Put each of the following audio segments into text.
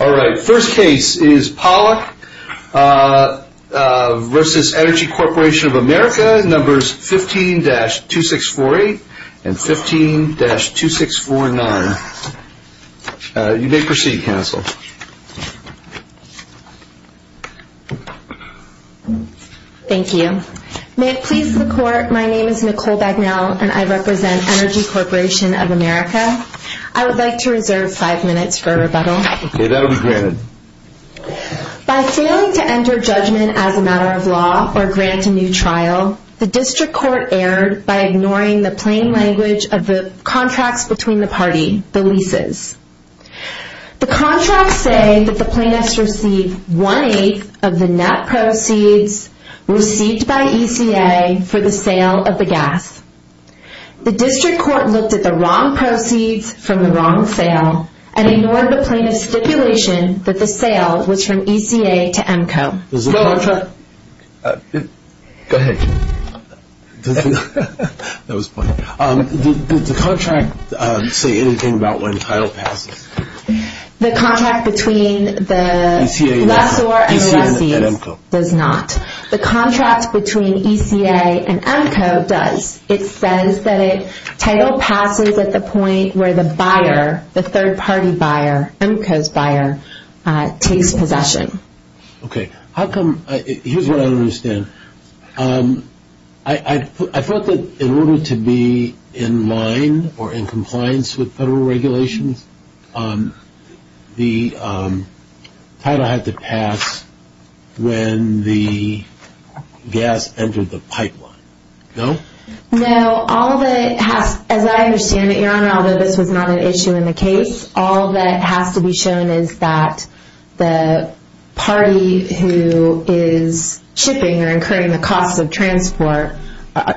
All right, first case is Pollock v. Energy Corporation of America, numbers 15-2648 and 15-2649. You may proceed, counsel. Thank you. May it please the Court, my name is Nicole Bagnell, and I represent Energy Corporation of America. I would like to reserve five minutes for rebuttal. Okay, that will be granted. By failing to enter judgment as a matter of law or grant a new trial, the District Court erred by ignoring the plain language of the contracts between the party, the leases. The contracts say that the plaintiffs received one-eighth of the net proceeds received by ECA for the sale of the gas. The District Court looked at the wrong proceeds from the wrong sale and ignored the plaintiff's stipulation that the sale was from ECA to EMCO. Does the contract... Go ahead. That was funny. Did the contract say anything about when title passes? The contract between the lessor and lessee does not. The contract between ECA and EMCO does. It says that a title passes at the point where the buyer, the third-party buyer, EMCO's buyer, takes possession. Okay. How come... Here's what I don't understand. I thought that in order to be in line or in compliance with federal regulations, the title had to pass when the gas entered the pipeline. No? No. All that has... As I understand it, Your Honor, although this was not an issue in the case, all that has to be shown is that the party who is shipping or incurring the costs of transport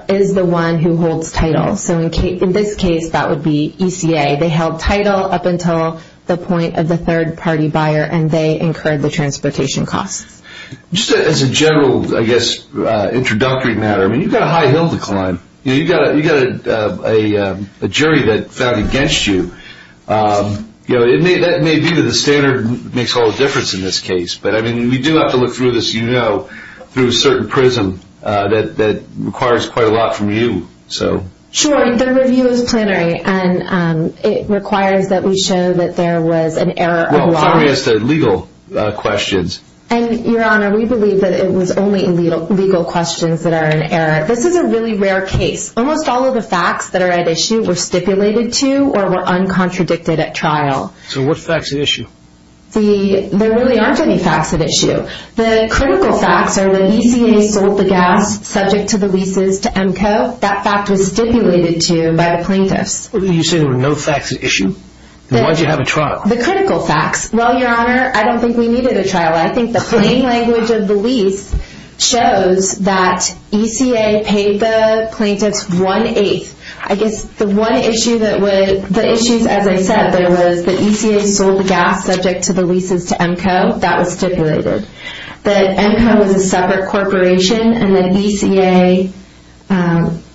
is the one who holds title. So in this case, that would be ECA. They held title up until the point of the third-party buyer, and they incurred the transportation costs. Just as a general, I guess, introductory matter, you've got a high hill to climb. You've got a jury that's out against you. That may be that the standard makes all the difference in this case, but we do have to look through this, you know, through a certain prism that requires quite a lot from you. Sure. The review is plenary, and it requires that we show that there was an error of law. Well, plenary is the legal questions. And, Your Honor, we believe that it was only legal questions that are an error. This is a really rare case. Almost all of the facts that are at issue were stipulated to or were uncontradicted at trial. So what facts are at issue? There really aren't any facts at issue. The critical facts are that ECA sold the gas subject to the leases to EMCO. That fact was stipulated to by the plaintiffs. You say there were no facts at issue. Then why did you have a trial? The critical facts. Well, Your Honor, I don't think we needed a trial. I think the plain language of the lease shows that ECA paid the plaintiffs one-eighth. I guess the one issue that would – the issues, as I said, there was the ECA sold the gas subject to the leases to EMCO. That was stipulated. That EMCO was a separate corporation and that ECA –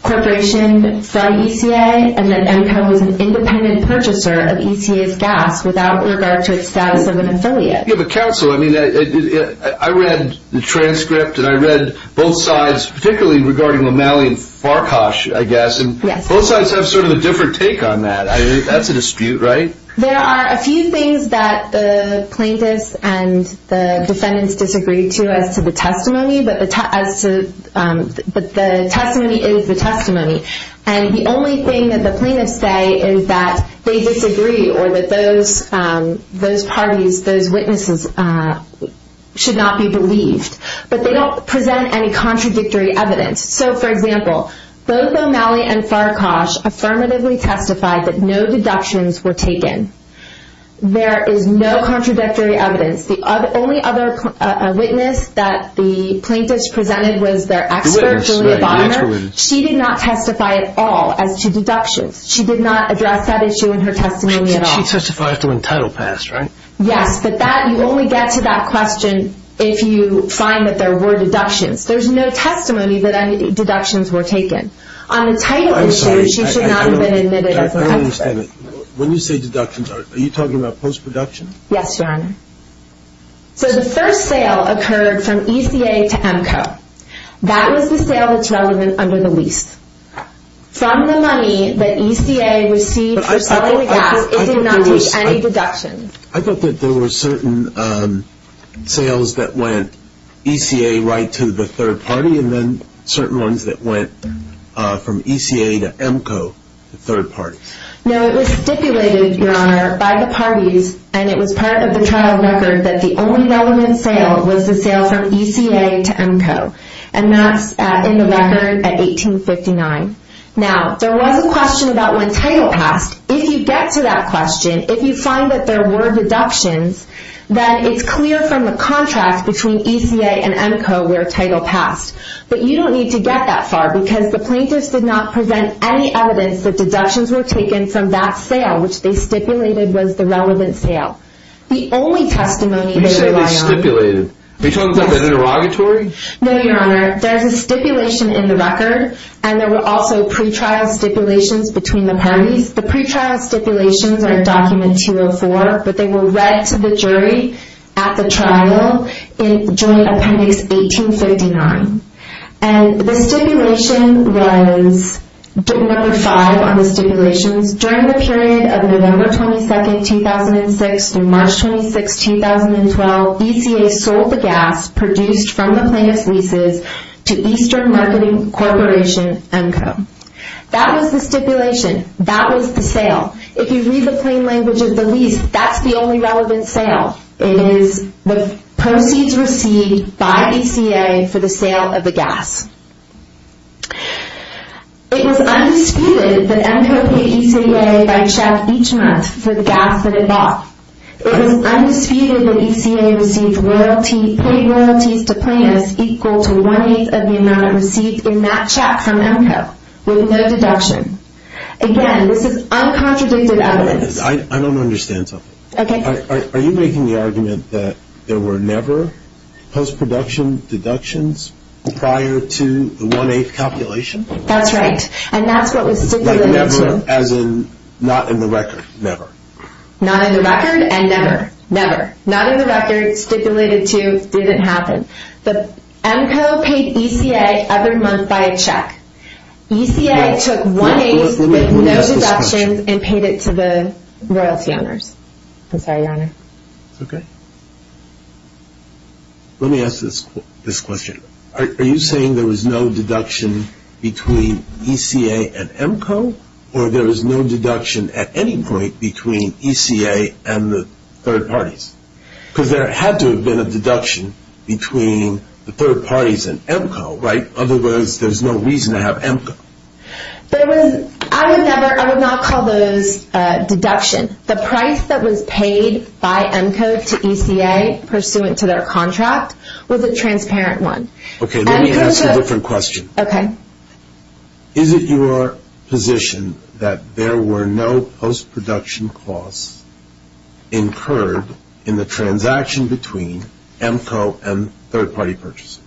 corporation from ECA and that EMCO was an independent purchaser of ECA's gas without regard to its status of an affiliate. Yeah, but counsel, I mean, I read the transcript and I read both sides, particularly regarding O'Malley and Farkhof, I guess. Yes. And both sides have sort of a different take on that. That's a dispute, right? There are a few things that the plaintiffs and the defendants disagree to as to the testimony, but the testimony is the testimony. And the only thing that the plaintiffs say is that they disagree or that those parties, those witnesses should not be believed. But they don't present any contradictory evidence. So, for example, both O'Malley and Farkhof affirmatively testified that no deductions were taken. There is no contradictory evidence. The only other witness that the plaintiffs presented was their expert, Julia Bonner. She did not testify at all as to deductions. She did not address that issue in her testimony at all. She testified to an entitled pass, right? Yes, but that – you only get to that question if you find that there were deductions. There's no testimony that any deductions were taken. On the title issue, she should not have been admitted as an expert. When you say deductions, are you talking about post-production? Yes, Your Honor. So the first sale occurred from ECA to EMCO. That was the sale that's relevant under the lease. From the money that ECA received for selling the gas, it did not reach any deductions. I thought that there were certain sales that went ECA right to the third party and then certain ones that went from ECA to EMCO, the third party. No, it was stipulated, Your Honor, by the parties, and it was part of the trial record that the only relevant sale was the sale from ECA to EMCO. And that's in the record at 1859. Now, there was a question about when title passed. If you get to that question, if you find that there were deductions, then it's clear from the contract between ECA and EMCO where title passed. But you don't need to get that far because the plaintiffs did not present any evidence that deductions were taken from that sale, which they stipulated was the relevant sale. The only testimony they rely on— You said they stipulated. Are you talking about an interrogatory? No, Your Honor. There's a stipulation in the record, and there were also pre-trial stipulations between the parties. The pre-trial stipulations are in Document 204, but they were read to the jury at the trial in Joint Appendix 1859. And the stipulation was number five on the stipulations. During the period of November 22, 2006 through March 26, 2012, ECA sold the gas produced from the plaintiff's leases to Eastern Marketing Corporation, EMCO. That was the stipulation. That was the sale. If you read the plain language of the lease, that's the only relevant sale. It is the proceeds received by ECA for the sale of the gas. It was undisputed that EMCO paid ECA by check each month for the gas that it bought. It was undisputed that ECA paid royalties to plaintiffs equal to one-eighth of the amount received in that check from EMCO, with no deduction. Again, this is uncontradicted evidence. I don't understand something. Are you making the argument that there were never post-production deductions prior to the one-eighth calculation? That's right, and that's what was stipulated, too. Like never, as in not in the record, never? Not in the record and never. Never. Not in the record, stipulated to, didn't happen. EMCO paid ECA every month by a check. ECA took one-eighth with no deductions and paid it to the royalty owners. I'm sorry, Your Honor. It's okay. Let me ask this question. Are you saying there was no deduction between ECA and EMCO, or there was no deduction at any point between ECA and the third parties? Because there had to have been a deduction between the third parties and EMCO, right? Otherwise, there's no reason to have EMCO. I would not call those deductions. The price that was paid by EMCO to ECA pursuant to their contract was a transparent one. Okay, let me ask a different question. Okay. Is it your position that there were no post-production costs incurred in the transaction between EMCO and third-party purchases?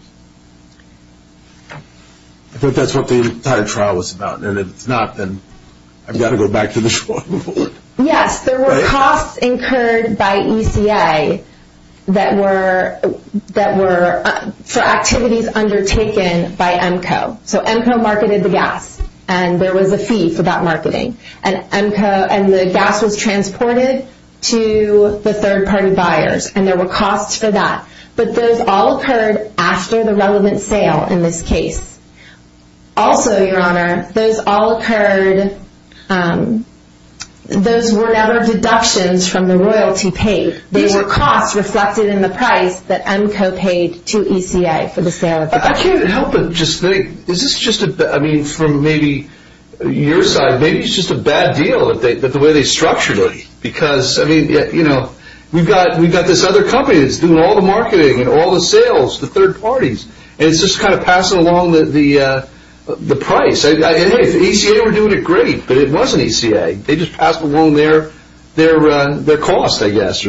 I thought that's what the entire trial was about, and if it's not, then I've got to go back to the short report. Yes, there were costs incurred by ECA for activities undertaken by EMCO. So EMCO marketed the gas, and there was a fee for that marketing. And the gas was transported to the third-party buyers, and there were costs for that. But those all occurred after the relevant sale in this case. Also, Your Honor, those all occurred, those were never deductions from the royalty paid. These were costs reflected in the price that EMCO paid to ECA for the sale of the gas. I can't help but just think, is this just, I mean, from maybe your side, maybe it's just a bad deal the way they structured it. Because, I mean, you know, we've got this other company that's doing all the marketing and all the sales, the third parties. And it's just kind of passing along the price. I mean, ECA were doing it great, but it wasn't ECA. They just passed along their cost, I guess.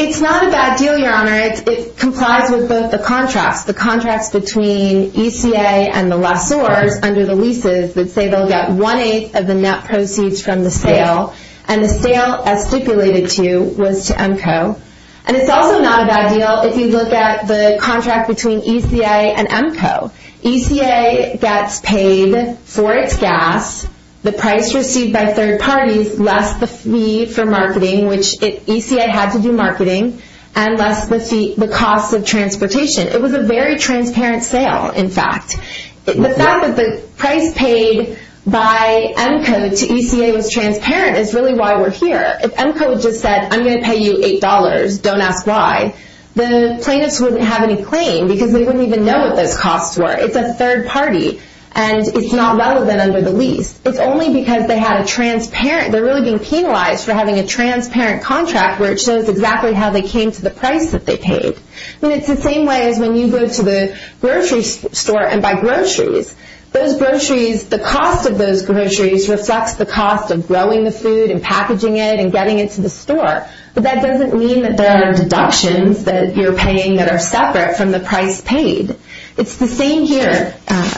It's not a bad deal, Your Honor. It complies with both the contracts, the contracts between ECA and the lessors under the leases that say they'll get one-eighth of the net proceeds from the sale. And the sale, as stipulated to you, was to EMCO. And it's also not a bad deal if you look at the contract between ECA and EMCO. ECA gets paid for its gas, the price received by third parties, less the fee for marketing, which ECA had to do marketing, and less the cost of transportation. It was a very transparent sale, in fact. The fact that the price paid by EMCO to ECA was transparent is really why we're here. If EMCO had just said, I'm going to pay you $8, don't ask why, the plaintiffs wouldn't have any claim because they wouldn't even know what those costs were. It's a third party, and it's not relevant under the lease. It's only because they're really being penalized for having a transparent contract where it shows exactly how they came to the price that they paid. I mean, it's the same way as when you go to the grocery store and buy groceries. The cost of those groceries reflects the cost of growing the food and packaging it and getting it to the store. But that doesn't mean that there are deductions that you're paying that are separate from the price paid. It's the same here.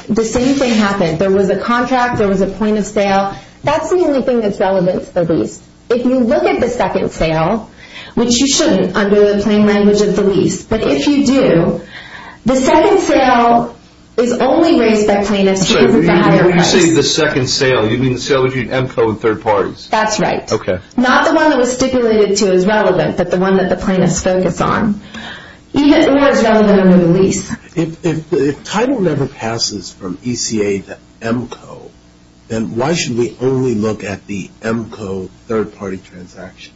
The same thing happened. There was a contract. There was a point of sale. That's the only thing that's relevant to the lease. If you look at the second sale, which you shouldn't under the plain language of the lease, but if you do, the second sale is only raised by plaintiffs because of the higher price. When you say the second sale, you mean the sale between EMCO and third parties? That's right. Okay. Not the one that was stipulated to as relevant, but the one that the plaintiffs focus on, or is relevant under the lease. If title never passes from ECA to EMCO, then why should we only look at the EMCO third party transaction?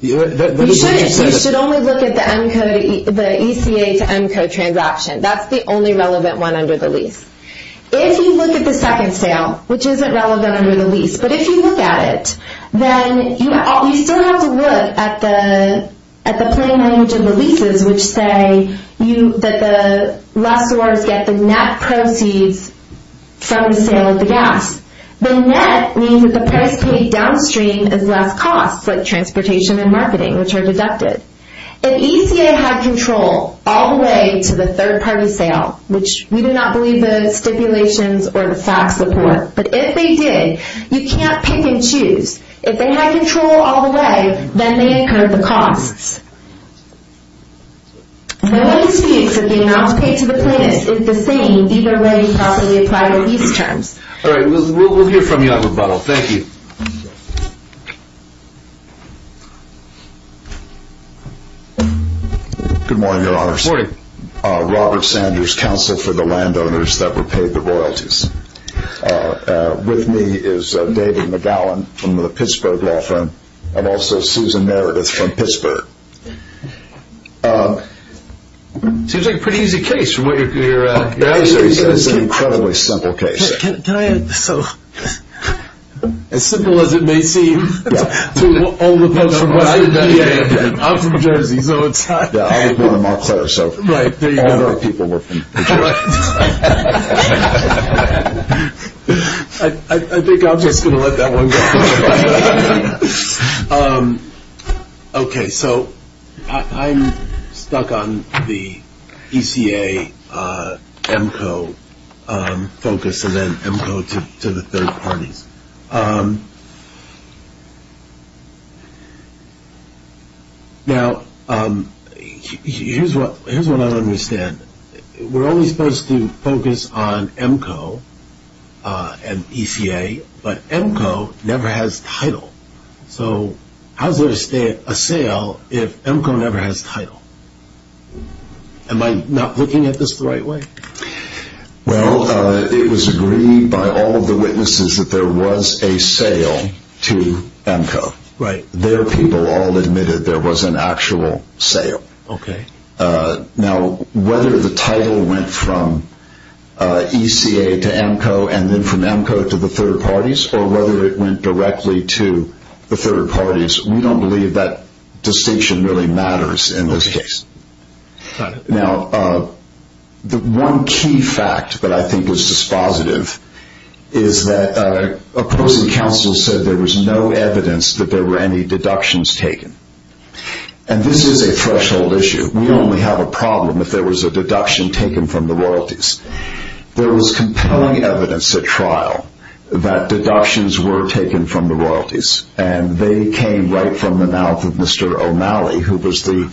You shouldn't. You should only look at the ECA to EMCO transaction. That's the only relevant one under the lease. If you look at the second sale, which isn't relevant under the lease, but if you look at it, then you still have to look at the plain language of the leases, which say that the lessors get the net proceeds from the sale of the gas. The net means that the price paid downstream is less cost, like transportation and marketing, which are deducted. If ECA had control all the way to the third party sale, which we do not believe the stipulations or the facts support, but if they did, you can't pick and choose. If they had control all the way, then they incurred the costs. No disputes of the amounts paid to the plaintiffs is the same either way you properly apply the lease terms. All right. We'll hear from you on rebuttal. Good morning, Your Honors. Good morning. Robert Sanders, counsel for the landowners that were paid the royalties. With me is David McGowan from the Pittsburgh law firm and also Susan Meredith from Pittsburgh. Seems like a pretty easy case. It's an incredibly simple case. As simple as it may seem to all the folks from West Virginia. I'm from Jersey, so it's hard. I was born in Montclair, so all of our people were from Jersey. I think I'm just going to let that one go. Okay. So I'm stuck on the ECA-EMCO focus and then EMCO to the third parties. Now, here's what I don't understand. We're only supposed to focus on EMCO and ECA, but EMCO never has title. So how is there a sale if EMCO never has title? Am I not looking at this the right way? Well, it was agreed by all of the witnesses that there was a sale to EMCO. Their people all admitted there was an actual sale. Now, whether the title went from ECA to EMCO and then from EMCO to the third parties or whether it went directly to the third parties, we don't believe that distinction really matters in this case. Now, the one key fact that I think is dispositive is that opposing counsel said there was no evidence that there were any deductions taken. And this is a threshold issue. We only have a problem if there was a deduction taken from the royalties. There was compelling evidence at trial that deductions were taken from the royalties, and they came right from the mouth of Mr. O'Malley, who was the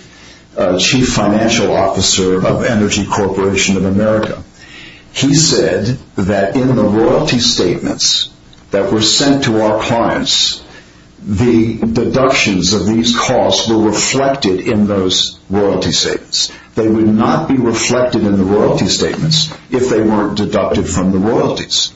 chief financial officer of Energy Corporation of America. He said that in the royalty statements that were sent to our clients, the deductions of these costs were reflected in those royalty statements. They would not be reflected in the royalty statements if they weren't deducted from the royalties.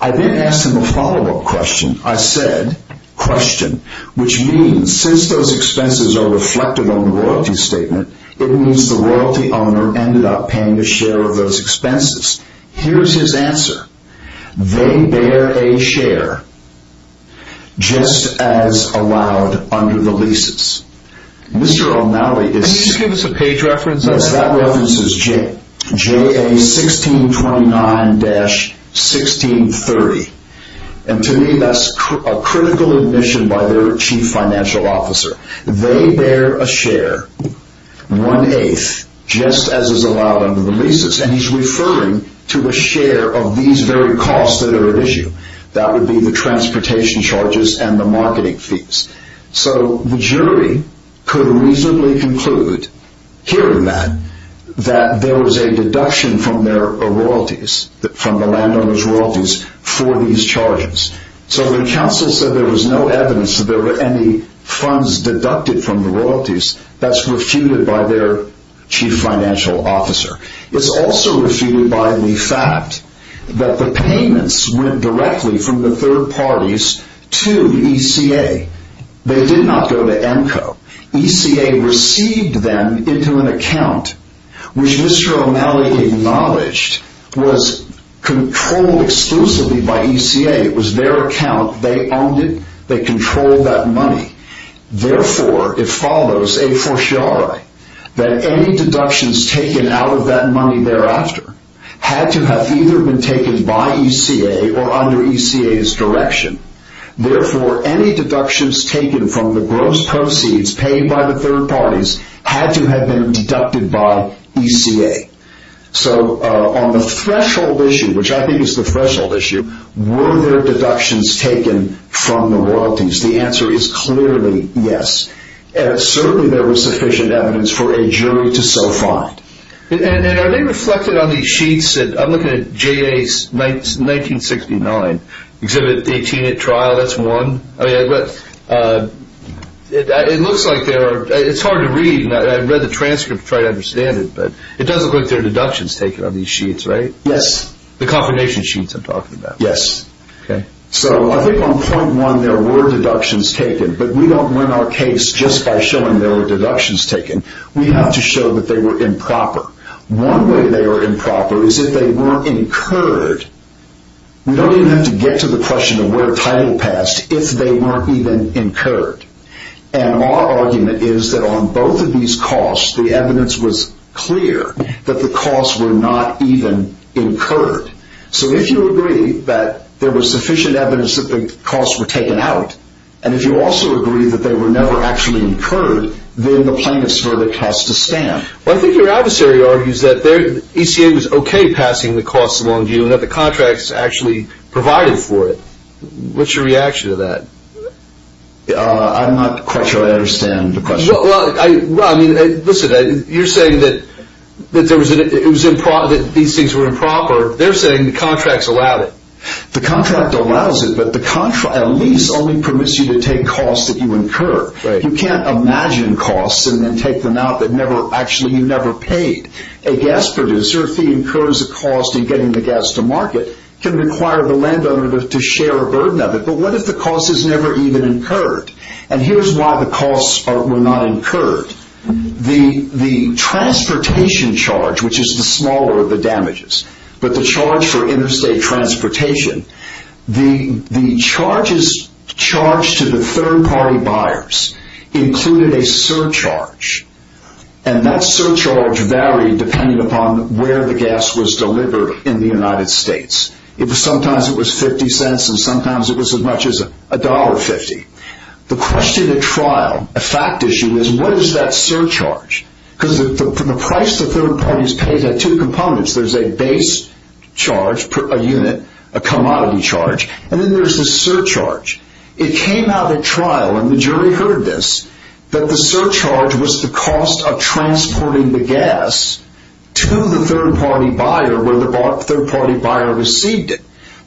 I then asked him a follow-up question. I said, question, which means since those expenses are reflected on the royalty statement, it means the royalty owner ended up paying a share of those expenses. Here's his answer. They bear a share just as allowed under the leases. Mr. O'Malley is… Can you give us a page reference on that? That reference is JA 1629-1630. To me, that's a critical admission by their chief financial officer. They bear a share, one-eighth, just as is allowed under the leases. He's referring to a share of these very costs that are at issue. That would be the transportation charges and the marketing fees. The jury could reasonably conclude, hearing that, that there was a deduction from the landowner's royalties for these charges. The counsel said there was no evidence that there were any funds deducted from the royalties. That's refuted by their chief financial officer. It's also refuted by the fact that the payments went directly from the third parties to ECA. They did not go to ENCO. ECA received them into an account, which Mr. O'Malley acknowledged was controlled exclusively by ECA. It was their account. They owned it. They controlled that money. Therefore, it follows a fortiori that any deductions taken out of that money thereafter had to have either been taken by ECA or under ECA's direction. Therefore, any deductions taken from the gross proceeds paid by the third parties had to have been deducted by ECA. On the threshold issue, which I think is the threshold issue, were there deductions taken from the royalties? The answer is clearly yes. Certainly, there was sufficient evidence for a jury to so find. Are they reflected on these sheets? I'm looking at J.A.'s 1969 Exhibit 18 at trial. That's one. It looks like they are. It's hard to read. I read the transcript to try to understand it, but it does look like there are deductions taken on these sheets, right? Yes. The confirmation sheets I'm talking about. Yes. I think on point one there were deductions taken, but we don't run our case just by showing there were deductions taken. We have to show that they were improper. One way they were improper is if they weren't incurred. We don't even have to get to the question of where title passed if they weren't even incurred. Our argument is that on both of these costs, the evidence was clear that the costs were not even incurred. If you agree that there was sufficient evidence that the costs were taken out, and if you also agree that they were never actually incurred, then the plaintiff's verdict has to stand. I think your adversary argues that ECA was okay passing the costs along to you and that the contracts actually provided for it. What's your reaction to that? I'm not quite sure I understand the question. Listen, you're saying that these things were improper. They're saying the contracts allowed it. The contract allows it, but the lease only permits you to take costs that you incur. You can't imagine costs and then take them out that actually you never paid. A gas producer, if he incurs a cost in getting the gas to market, can require the landowner to share a burden of it. But what if the cost is never even incurred? And here's why the costs were not incurred. The transportation charge, which is the smaller of the damages, but the charge for interstate transportation, the charges charged to the third-party buyers included a surcharge, and that surcharge varied depending upon where the gas was delivered in the United States. Sometimes it was 50 cents and sometimes it was as much as $1.50. The question at trial, a fact issue, is what is that surcharge? Because the price the third parties paid had two components. There's a base charge per unit, a commodity charge, and then there's the surcharge. It came out at trial, and the jury heard this, that the surcharge was the cost of transporting the gas to the third-party buyer where the third-party buyer received it.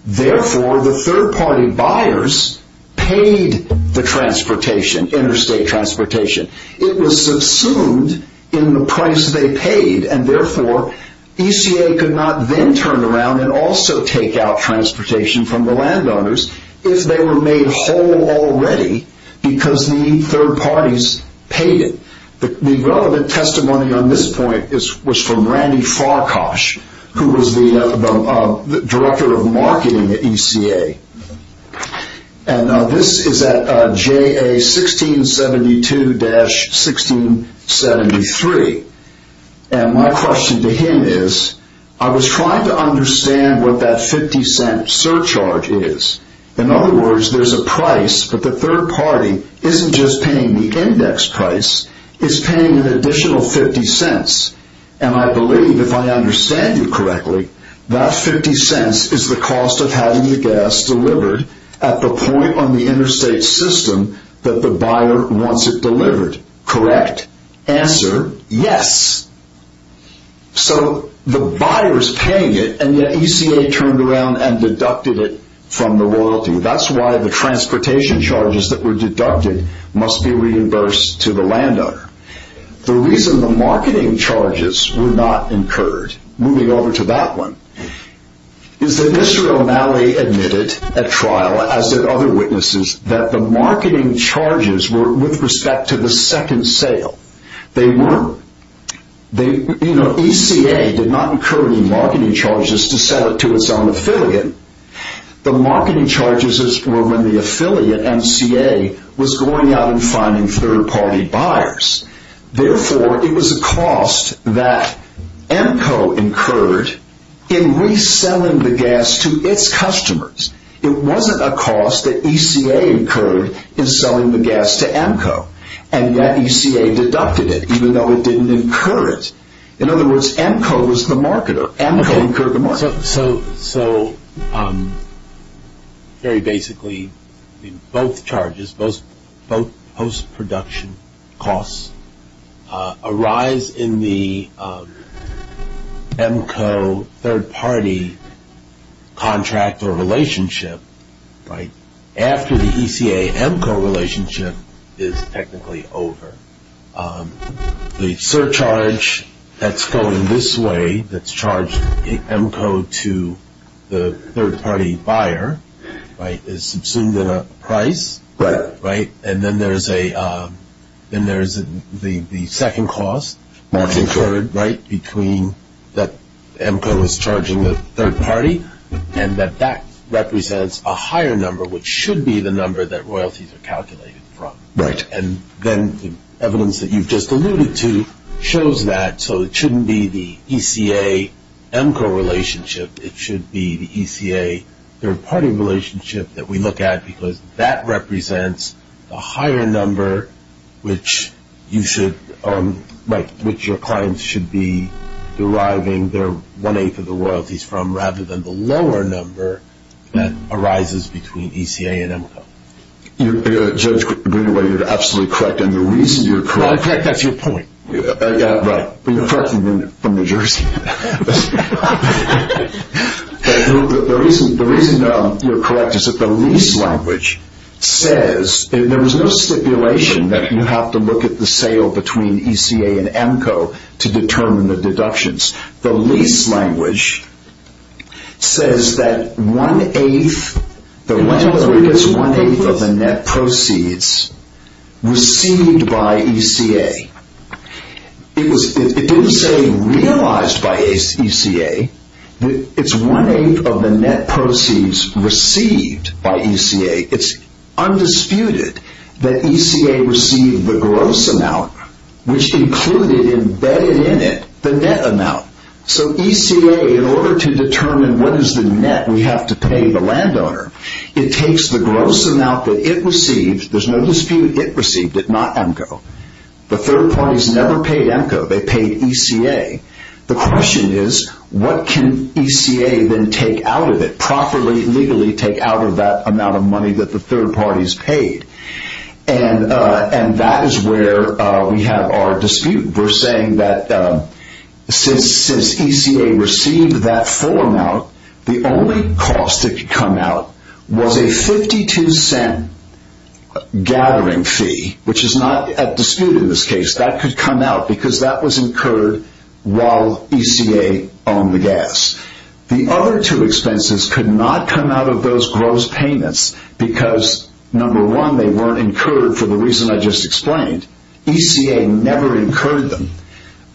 Therefore, the third-party buyers paid the transportation, interstate transportation. It was subsumed in the price they paid, and therefore ECA could not then turn around and also take out transportation from the landowners if they were made whole already because the third parties paid it. The relevant testimony on this point was from Randy Farkosh, who was the director of marketing at ECA. This is at JA 1672-1673. My question to him is, I was trying to understand what that 50-cent surcharge is. In other words, there's a price, but the third-party isn't just paying the index price, it's paying an additional 50 cents. I believe, if I understand you correctly, that 50 cents is the cost of having the gas delivered at the point on the interstate system that the buyer wants it delivered. Correct. Answer? Yes. So, the buyer is paying it, and yet ECA turned around and deducted it from the royalty. That's why the transportation charges that were deducted must be reimbursed to the landowner. The reason the marketing charges were not incurred, moving over to that one, is that Mr. O'Malley admitted at trial, as did other witnesses, that the marketing charges were with respect to the second sale. They were. ECA did not incur any marketing charges to sell it to its own affiliate. The marketing charges were when the affiliate, MCA, was going out and finding third-party buyers. Therefore, it was a cost that EMCO incurred in reselling the gas to its customers. It wasn't a cost that ECA incurred in selling the gas to EMCO, and yet ECA deducted it, even though it didn't incur it. In other words, EMCO was the marketer. EMCO incurred the market. So, very basically, both charges, both post-production costs, arise in the EMCO third-party contract or relationship after the ECA-EMCO relationship is technically over. The surcharge that's going this way, that's charged EMCO to the third-party buyer, is subsumed in a price, and then there's the second cost that's incurred between that EMCO is charging the third party, and that that represents a higher number, which should be the number that royalties are calculated from. And then the evidence that you've just alluded to shows that. So it shouldn't be the ECA-EMCO relationship. It should be the ECA third-party relationship that we look at, because that represents a higher number, which your clients should be deriving their one-eighth of the royalties from, rather than the lower number that arises between ECA and EMCO. Judge Greenaway, you're absolutely correct, and the reason you're correct... I'm correct. That's your point. Right. But you're correct from New Jersey. The reason you're correct is that the lease language says... There was no stipulation that you have to look at the sale between ECA and EMCO to determine the deductions. The lease language says that one-eighth of the net proceeds received by ECA. It didn't say realized by ECA. It's one-eighth of the net proceeds received by ECA. It's undisputed that ECA received the gross amount, which included embedded in it the net amount. So ECA, in order to determine what is the net we have to pay the landowner, it takes the gross amount that it received. There's no dispute. It received it, not EMCO. The third-party has never paid EMCO. They paid ECA. The question is, what can ECA then take out of it? Properly, legally take out of that amount of money that the third-party has paid. And that is where we have our dispute. We're saying that since ECA received that full amount, the only cost that could come out was a 52-cent gathering fee, which is not a dispute in this case. That could come out because that was incurred while ECA owned the gas. The other two expenses could not come out of those gross payments because, number one, they weren't incurred for the reason I just explained. ECA never incurred them.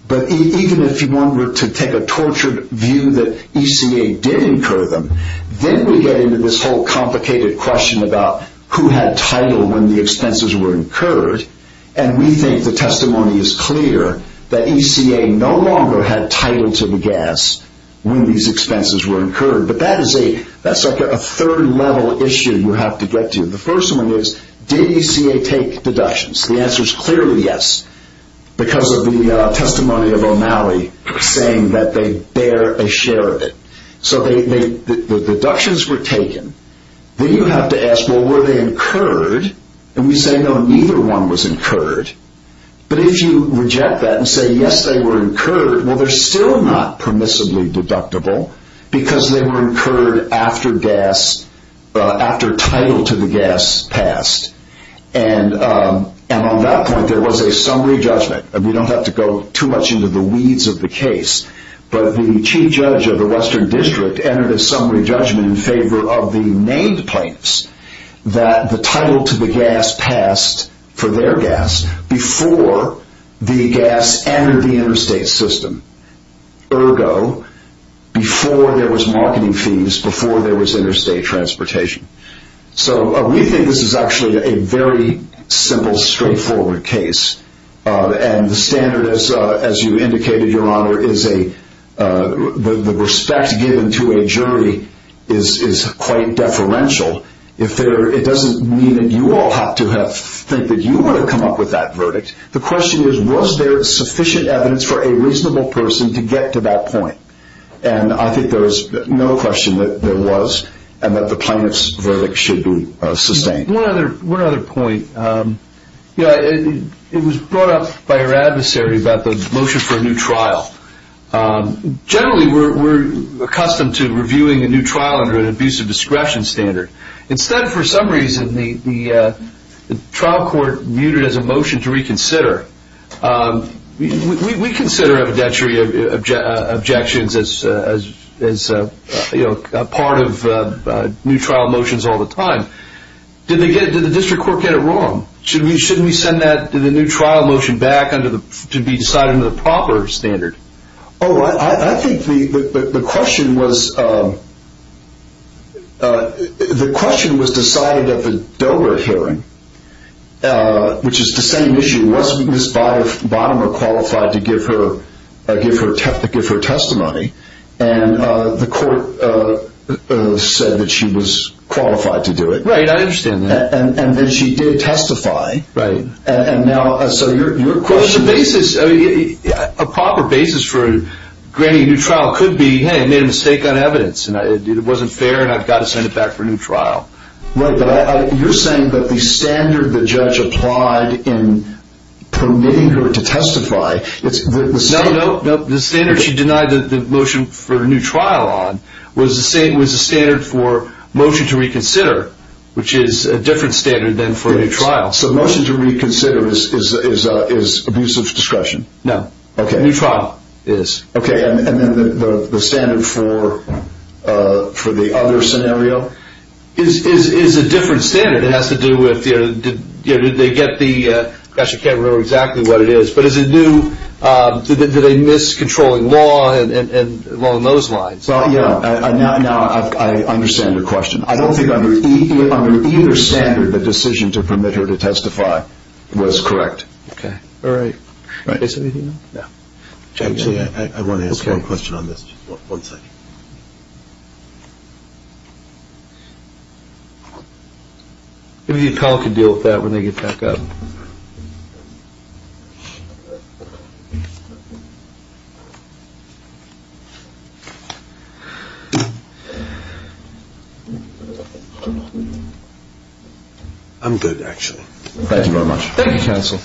But even if one were to take a tortured view that ECA did incur them, then we get into this whole complicated question about who had title when the expenses were incurred. And we think the testimony is clear that ECA no longer had title to the gas when these expenses were incurred. But that is a third-level issue you have to get to. The first one is, did ECA take deductions? The answer is clearly yes, because of the testimony of O'Malley saying that they bear a share of it. So the deductions were taken. Then you have to ask, well, were they incurred? And we say, no, neither one was incurred. But if you reject that and say, yes, they were incurred, well, they're still not permissibly deductible because they were incurred after title to the gas passed. And on that point, there was a summary judgment. We don't have to go too much into the weeds of the case. But the chief judge of the Western District entered a summary judgment in favor of the named plaintiffs that the title to the gas passed for their gas before the gas entered the interstate system. Ergo, before there was marketing fees, before there was interstate transportation. So we think this is actually a very simple, straightforward case. And the standard, as you indicated, Your Honor, is the respect given to a jury is quite deferential. It doesn't mean that you all have to think that you want to come up with that verdict. The question is, was there sufficient evidence for a reasonable person to get to that point? And I think there is no question that there was and that the plaintiff's verdict should be sustained. One other point. It was brought up by your adversary about the motion for a new trial. Generally, we're accustomed to reviewing a new trial under an abusive discretion standard. Instead, for some reason, the trial court viewed it as a motion to reconsider. We consider evidentiary objections as part of new trial motions all the time. Did the district court get it wrong? Shouldn't we send the new trial motion back to be decided under the proper standard? Oh, I think the question was decided at the Dover hearing, which is the same issue. It wasn't Ms. Bottomer qualified to give her testimony. And the court said that she was qualified to do it. Right, I understand that. And that she did testify. Right. And now, so your question is? Well, the basis, a proper basis for granting a new trial could be, hey, I made a mistake on evidence. It wasn't fair and I've got to send it back for a new trial. Right, but you're saying that the standard the judge applied in permitting her to testify. No, no, the standard she denied the motion for a new trial on was the standard for motion to reconsider, which is a different standard than for a new trial. So motion to reconsider is abusive discretion? No. Okay. A new trial is. Okay, and then the standard for the other scenario is a different standard. It has to do with did they get the, gosh, I can't remember exactly what it is, but is it new, did they miss controlling law along those lines? Well, yeah, now I understand your question. I don't think under either standard the decision to permit her to testify was correct. Okay. All right. Is there anything else? No. Actually, I want to ask one question on this, just one second. Maybe the appellate could deal with that when they get back up. I'm good, actually. Thank you very much. Thank you, counsel.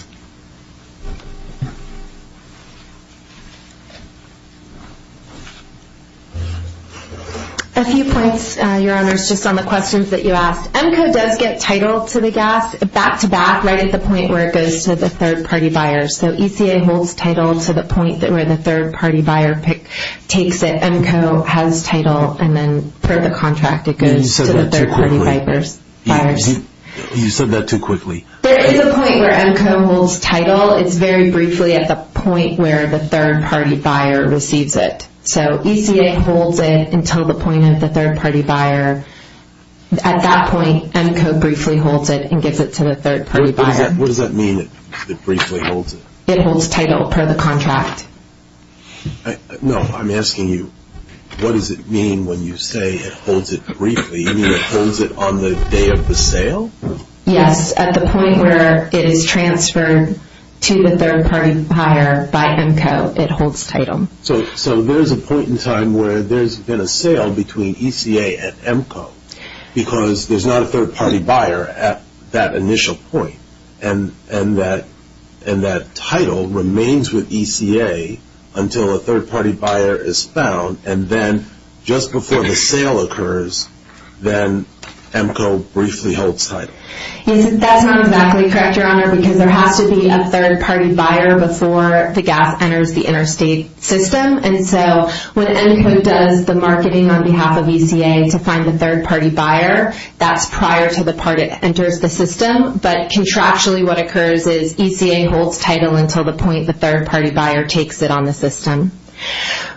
A few points, Your Honors, just on the questions that you asked. EMCO does get title to the gas back-to-back right at the point where it goes to the third-party buyers. So ECA holds title to the point where the third-party buyer takes it. EMCO has title and then per the contract it goes to the third-party buyers. You said that too quickly. There is a point where EMCO holds title. It's very briefly at the point where the third-party buyer receives it. So ECA holds it until the point of the third-party buyer. At that point, EMCO briefly holds it and gives it to the third-party buyer. What does that mean, it briefly holds it? It holds title per the contract. No, I'm asking you, what does it mean when you say it holds it briefly? You mean it holds it on the day of the sale? Yes, at the point where it is transferred to the third-party buyer by EMCO, it holds title. So there's a point in time where there's been a sale between ECA and EMCO because there's not a third-party buyer at that initial point, and that title remains with ECA until a third-party buyer is found, and then just before the sale occurs, then EMCO briefly holds title. That's not exactly correct, Your Honor, because there has to be a third-party buyer before the gas enters the interstate system, and so when EMCO does the marketing on behalf of ECA to find the third-party buyer, that's prior to the part it enters the system, but contractually what occurs is ECA holds title until the point the third-party buyer takes it on the system.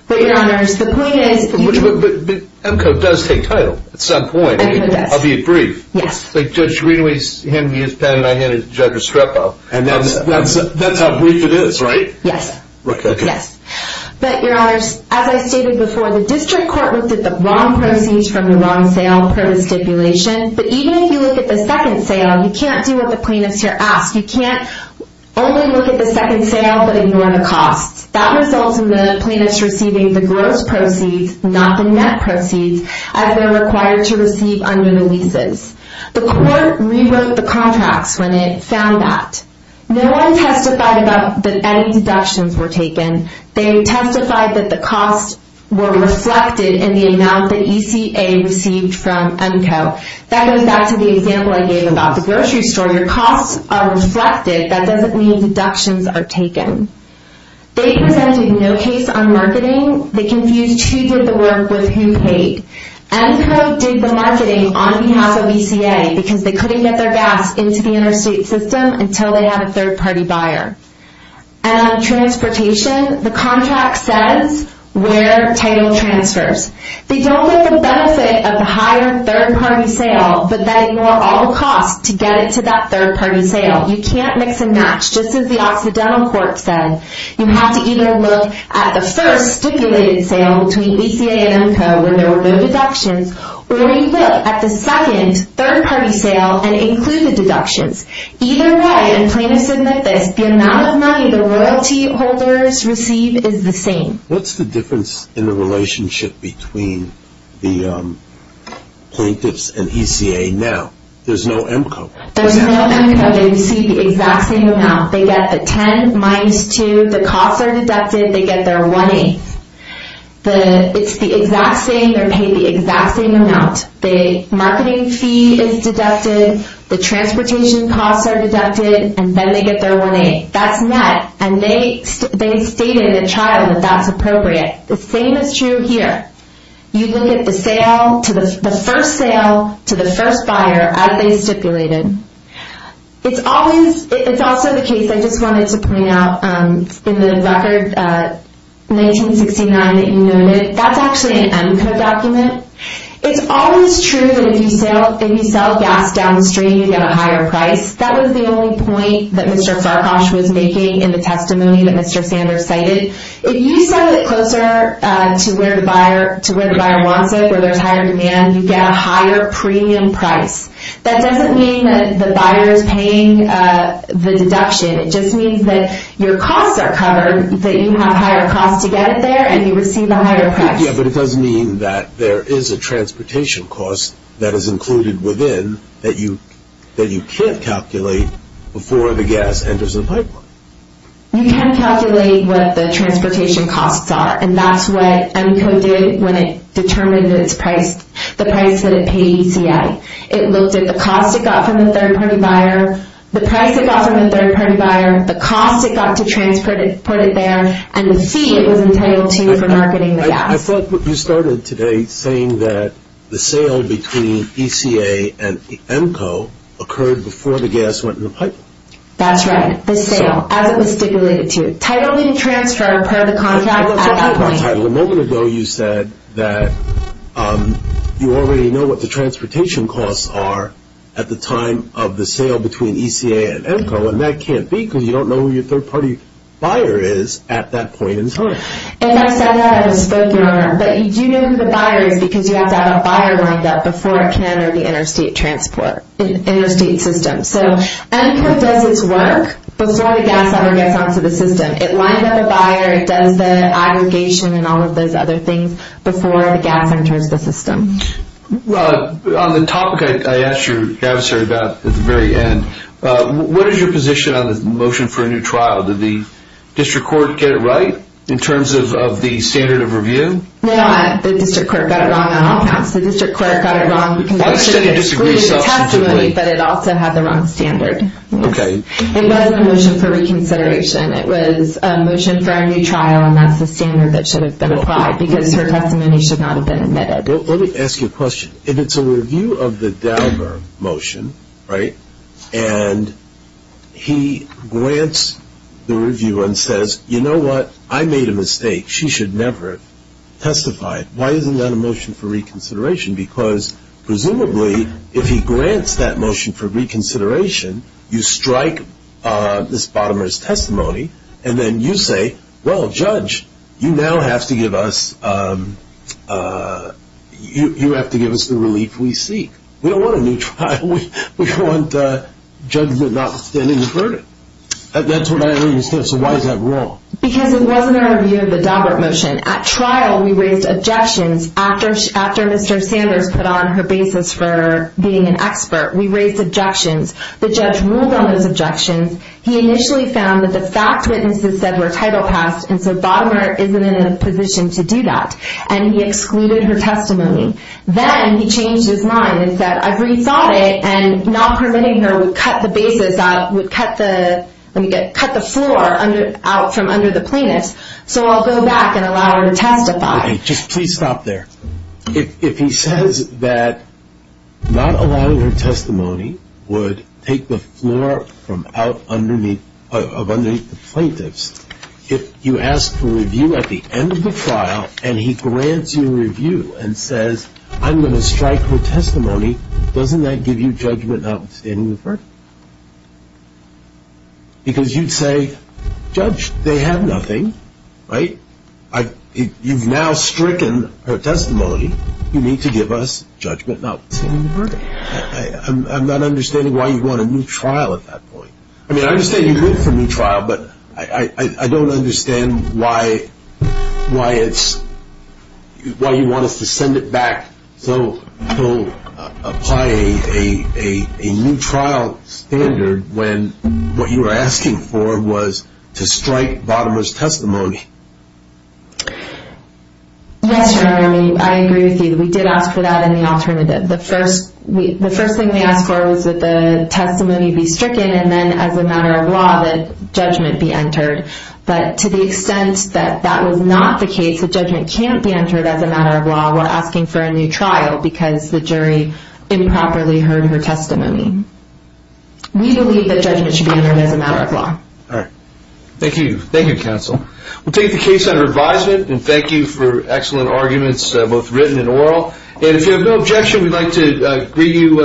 But, Your Honors, the point is... But EMCO does take title at some point, albeit brief. Yes. Like Judge Greenway handed me his pen and I handed Judge Estrepo. And that's how brief it is, right? Yes. Okay. But, Your Honors, as I stated before, the district court looked at the wrong proceeds from the wrong sale per the stipulation, but even if you look at the second sale, you can't do what the plaintiffs here ask. You can't only look at the second sale but ignore the costs. That results in the plaintiffs receiving the gross proceeds, not the net proceeds, as they're required to receive under the leases. The court rewrote the contracts when it found that. No one testified that any deductions were taken. They testified that the costs were reflected in the amount that ECA received from EMCO. That goes back to the example I gave about the grocery store. Your costs are reflected. That doesn't mean deductions are taken. They presented no case on marketing. They confused who did the work with who paid. EMCO did the marketing on behalf of ECA because they couldn't get their gas into the interstate system until they had a third-party buyer. And on transportation, the contract says where title transfers. They don't look at the benefit of the higher third-party sale, but they ignore all the costs to get it to that third-party sale. You can't mix and match. Just as the Occidental Court said, you have to either look at the first stipulated sale between ECA and EMCO where there were no deductions, or you look at the second third-party sale and include the deductions. Either way, and plaintiffs admit this, the amount of money the royalty holders receive is the same. What's the difference in the relationship between the plaintiffs and ECA now? There's no EMCO. There's no EMCO. They receive the exact same amount. They get the 10 minus 2. The costs are deducted. They get their 1A. It's the exact same. They're paid the exact same amount. The marketing fee is deducted. The transportation costs are deducted. And then they get their 1A. That's met. And they state in the trial that that's appropriate. The same is true here. You look at the first sale to the first buyer as they stipulated. It's also the case, I just wanted to point out, in the record 1969 that you noted, that's actually an EMCO document. It's always true that if you sell gas down the street, you get a higher price. That was the only point that Mr. Farhash was making in the testimony that Mr. Sanders cited. If you sell it closer to where the buyer wants it, where there's higher demand, you get a higher premium price. That doesn't mean that the buyer is paying the deduction. It just means that your costs are covered, that you have higher costs to get it there, and you receive a higher price. Yeah, but it does mean that there is a transportation cost that is included within that you can't calculate before the gas enters the pipeline. You can calculate what the transportation costs are, and that's what EMCO did when it determined the price that it paid ECA. It looked at the cost it got from the third-party buyer, the price it got from the third-party buyer, the cost it got to transport it there, and the fee it was entitled to for marketing the gas. I thought you started today saying that the sale between ECA and EMCO occurred before the gas went in the pipeline. That's right, the sale, as it was stipulated to. Title didn't transfer per the contract at that point. A moment ago you said that you already know what the transportation costs are at the time of the sale between ECA and EMCO, and that can't be because you don't know who your third-party buyer is at that point in time. If I said that, I would have spoken on it. But you do know who the buyer is because you have to have a buyer lined up before it can enter the interstate system. So EMCO does its work before the gas ever gets onto the system. It lines up a buyer, it does the aggregation and all of those other things before the gas enters the system. On the topic I asked your adversary about at the very end, what is your position on the motion for a new trial? Did the district court get it right in terms of the standard of review? No, the district court got it wrong on all counts. The district court got it wrong. It excluded the testimony, but it also had the wrong standard. It wasn't a motion for reconsideration. It was a motion for a new trial, and that's the standard that should have been applied because her testimony should not have been admitted. Let me ask you a question. If it's a review of the Dauber motion, right, and he grants the review and says, you know what, I made a mistake, she should never have testified, why isn't that a motion for reconsideration? Because presumably if he grants that motion for reconsideration, you strike this bottomer's testimony, and then you say, well, judge, you now have to give us the relief we seek. We don't want a new trial. We don't want judgment not standing the burden. That's what I understand. So why is that wrong? Because it wasn't a review of the Dauber motion. At trial we raised objections. After Mr. Sanders put on her basis for being an expert, we raised objections. The judge ruled on those objections. He initially found that the fact witnesses said were title passed, and so bottomer isn't in a position to do that, and he excluded her testimony. Then he changed his mind and said, I've rethought it, and not permitting her would cut the basis out, would cut the floor out from under the plaintiff's, so I'll go back and allow her to testify. Just please stop there. If he says that not allowing her testimony would take the floor from underneath the plaintiff's, if you ask for review at the end of the trial and he grants you review and says, I'm going to strike her testimony, doesn't that give you judgment not standing the burden? Because you'd say, Judge, they have nothing, right? You've now stricken her testimony. You need to give us judgment not standing the burden. I'm not understanding why you want a new trial at that point. I mean, I understand you're good for a new trial, but I don't understand why you want us to send it back So he'll apply a new trial standard when what you were asking for was to strike Bottomer's testimony. Yes, Your Honor, I agree with you. We did ask for that in the alternative. The first thing we asked for was that the testimony be stricken and then as a matter of law, that judgment be entered. But to the extent that that was not the case, the judgment can't be entered as a matter of law while asking for a new trial because the jury improperly heard her testimony. We believe that judgment should be entered as a matter of law. Thank you. Thank you, Counsel. We'll take the case under advisement and thank you for excellent arguments, both written and oral. And if you have no objection, we'd like to greet you.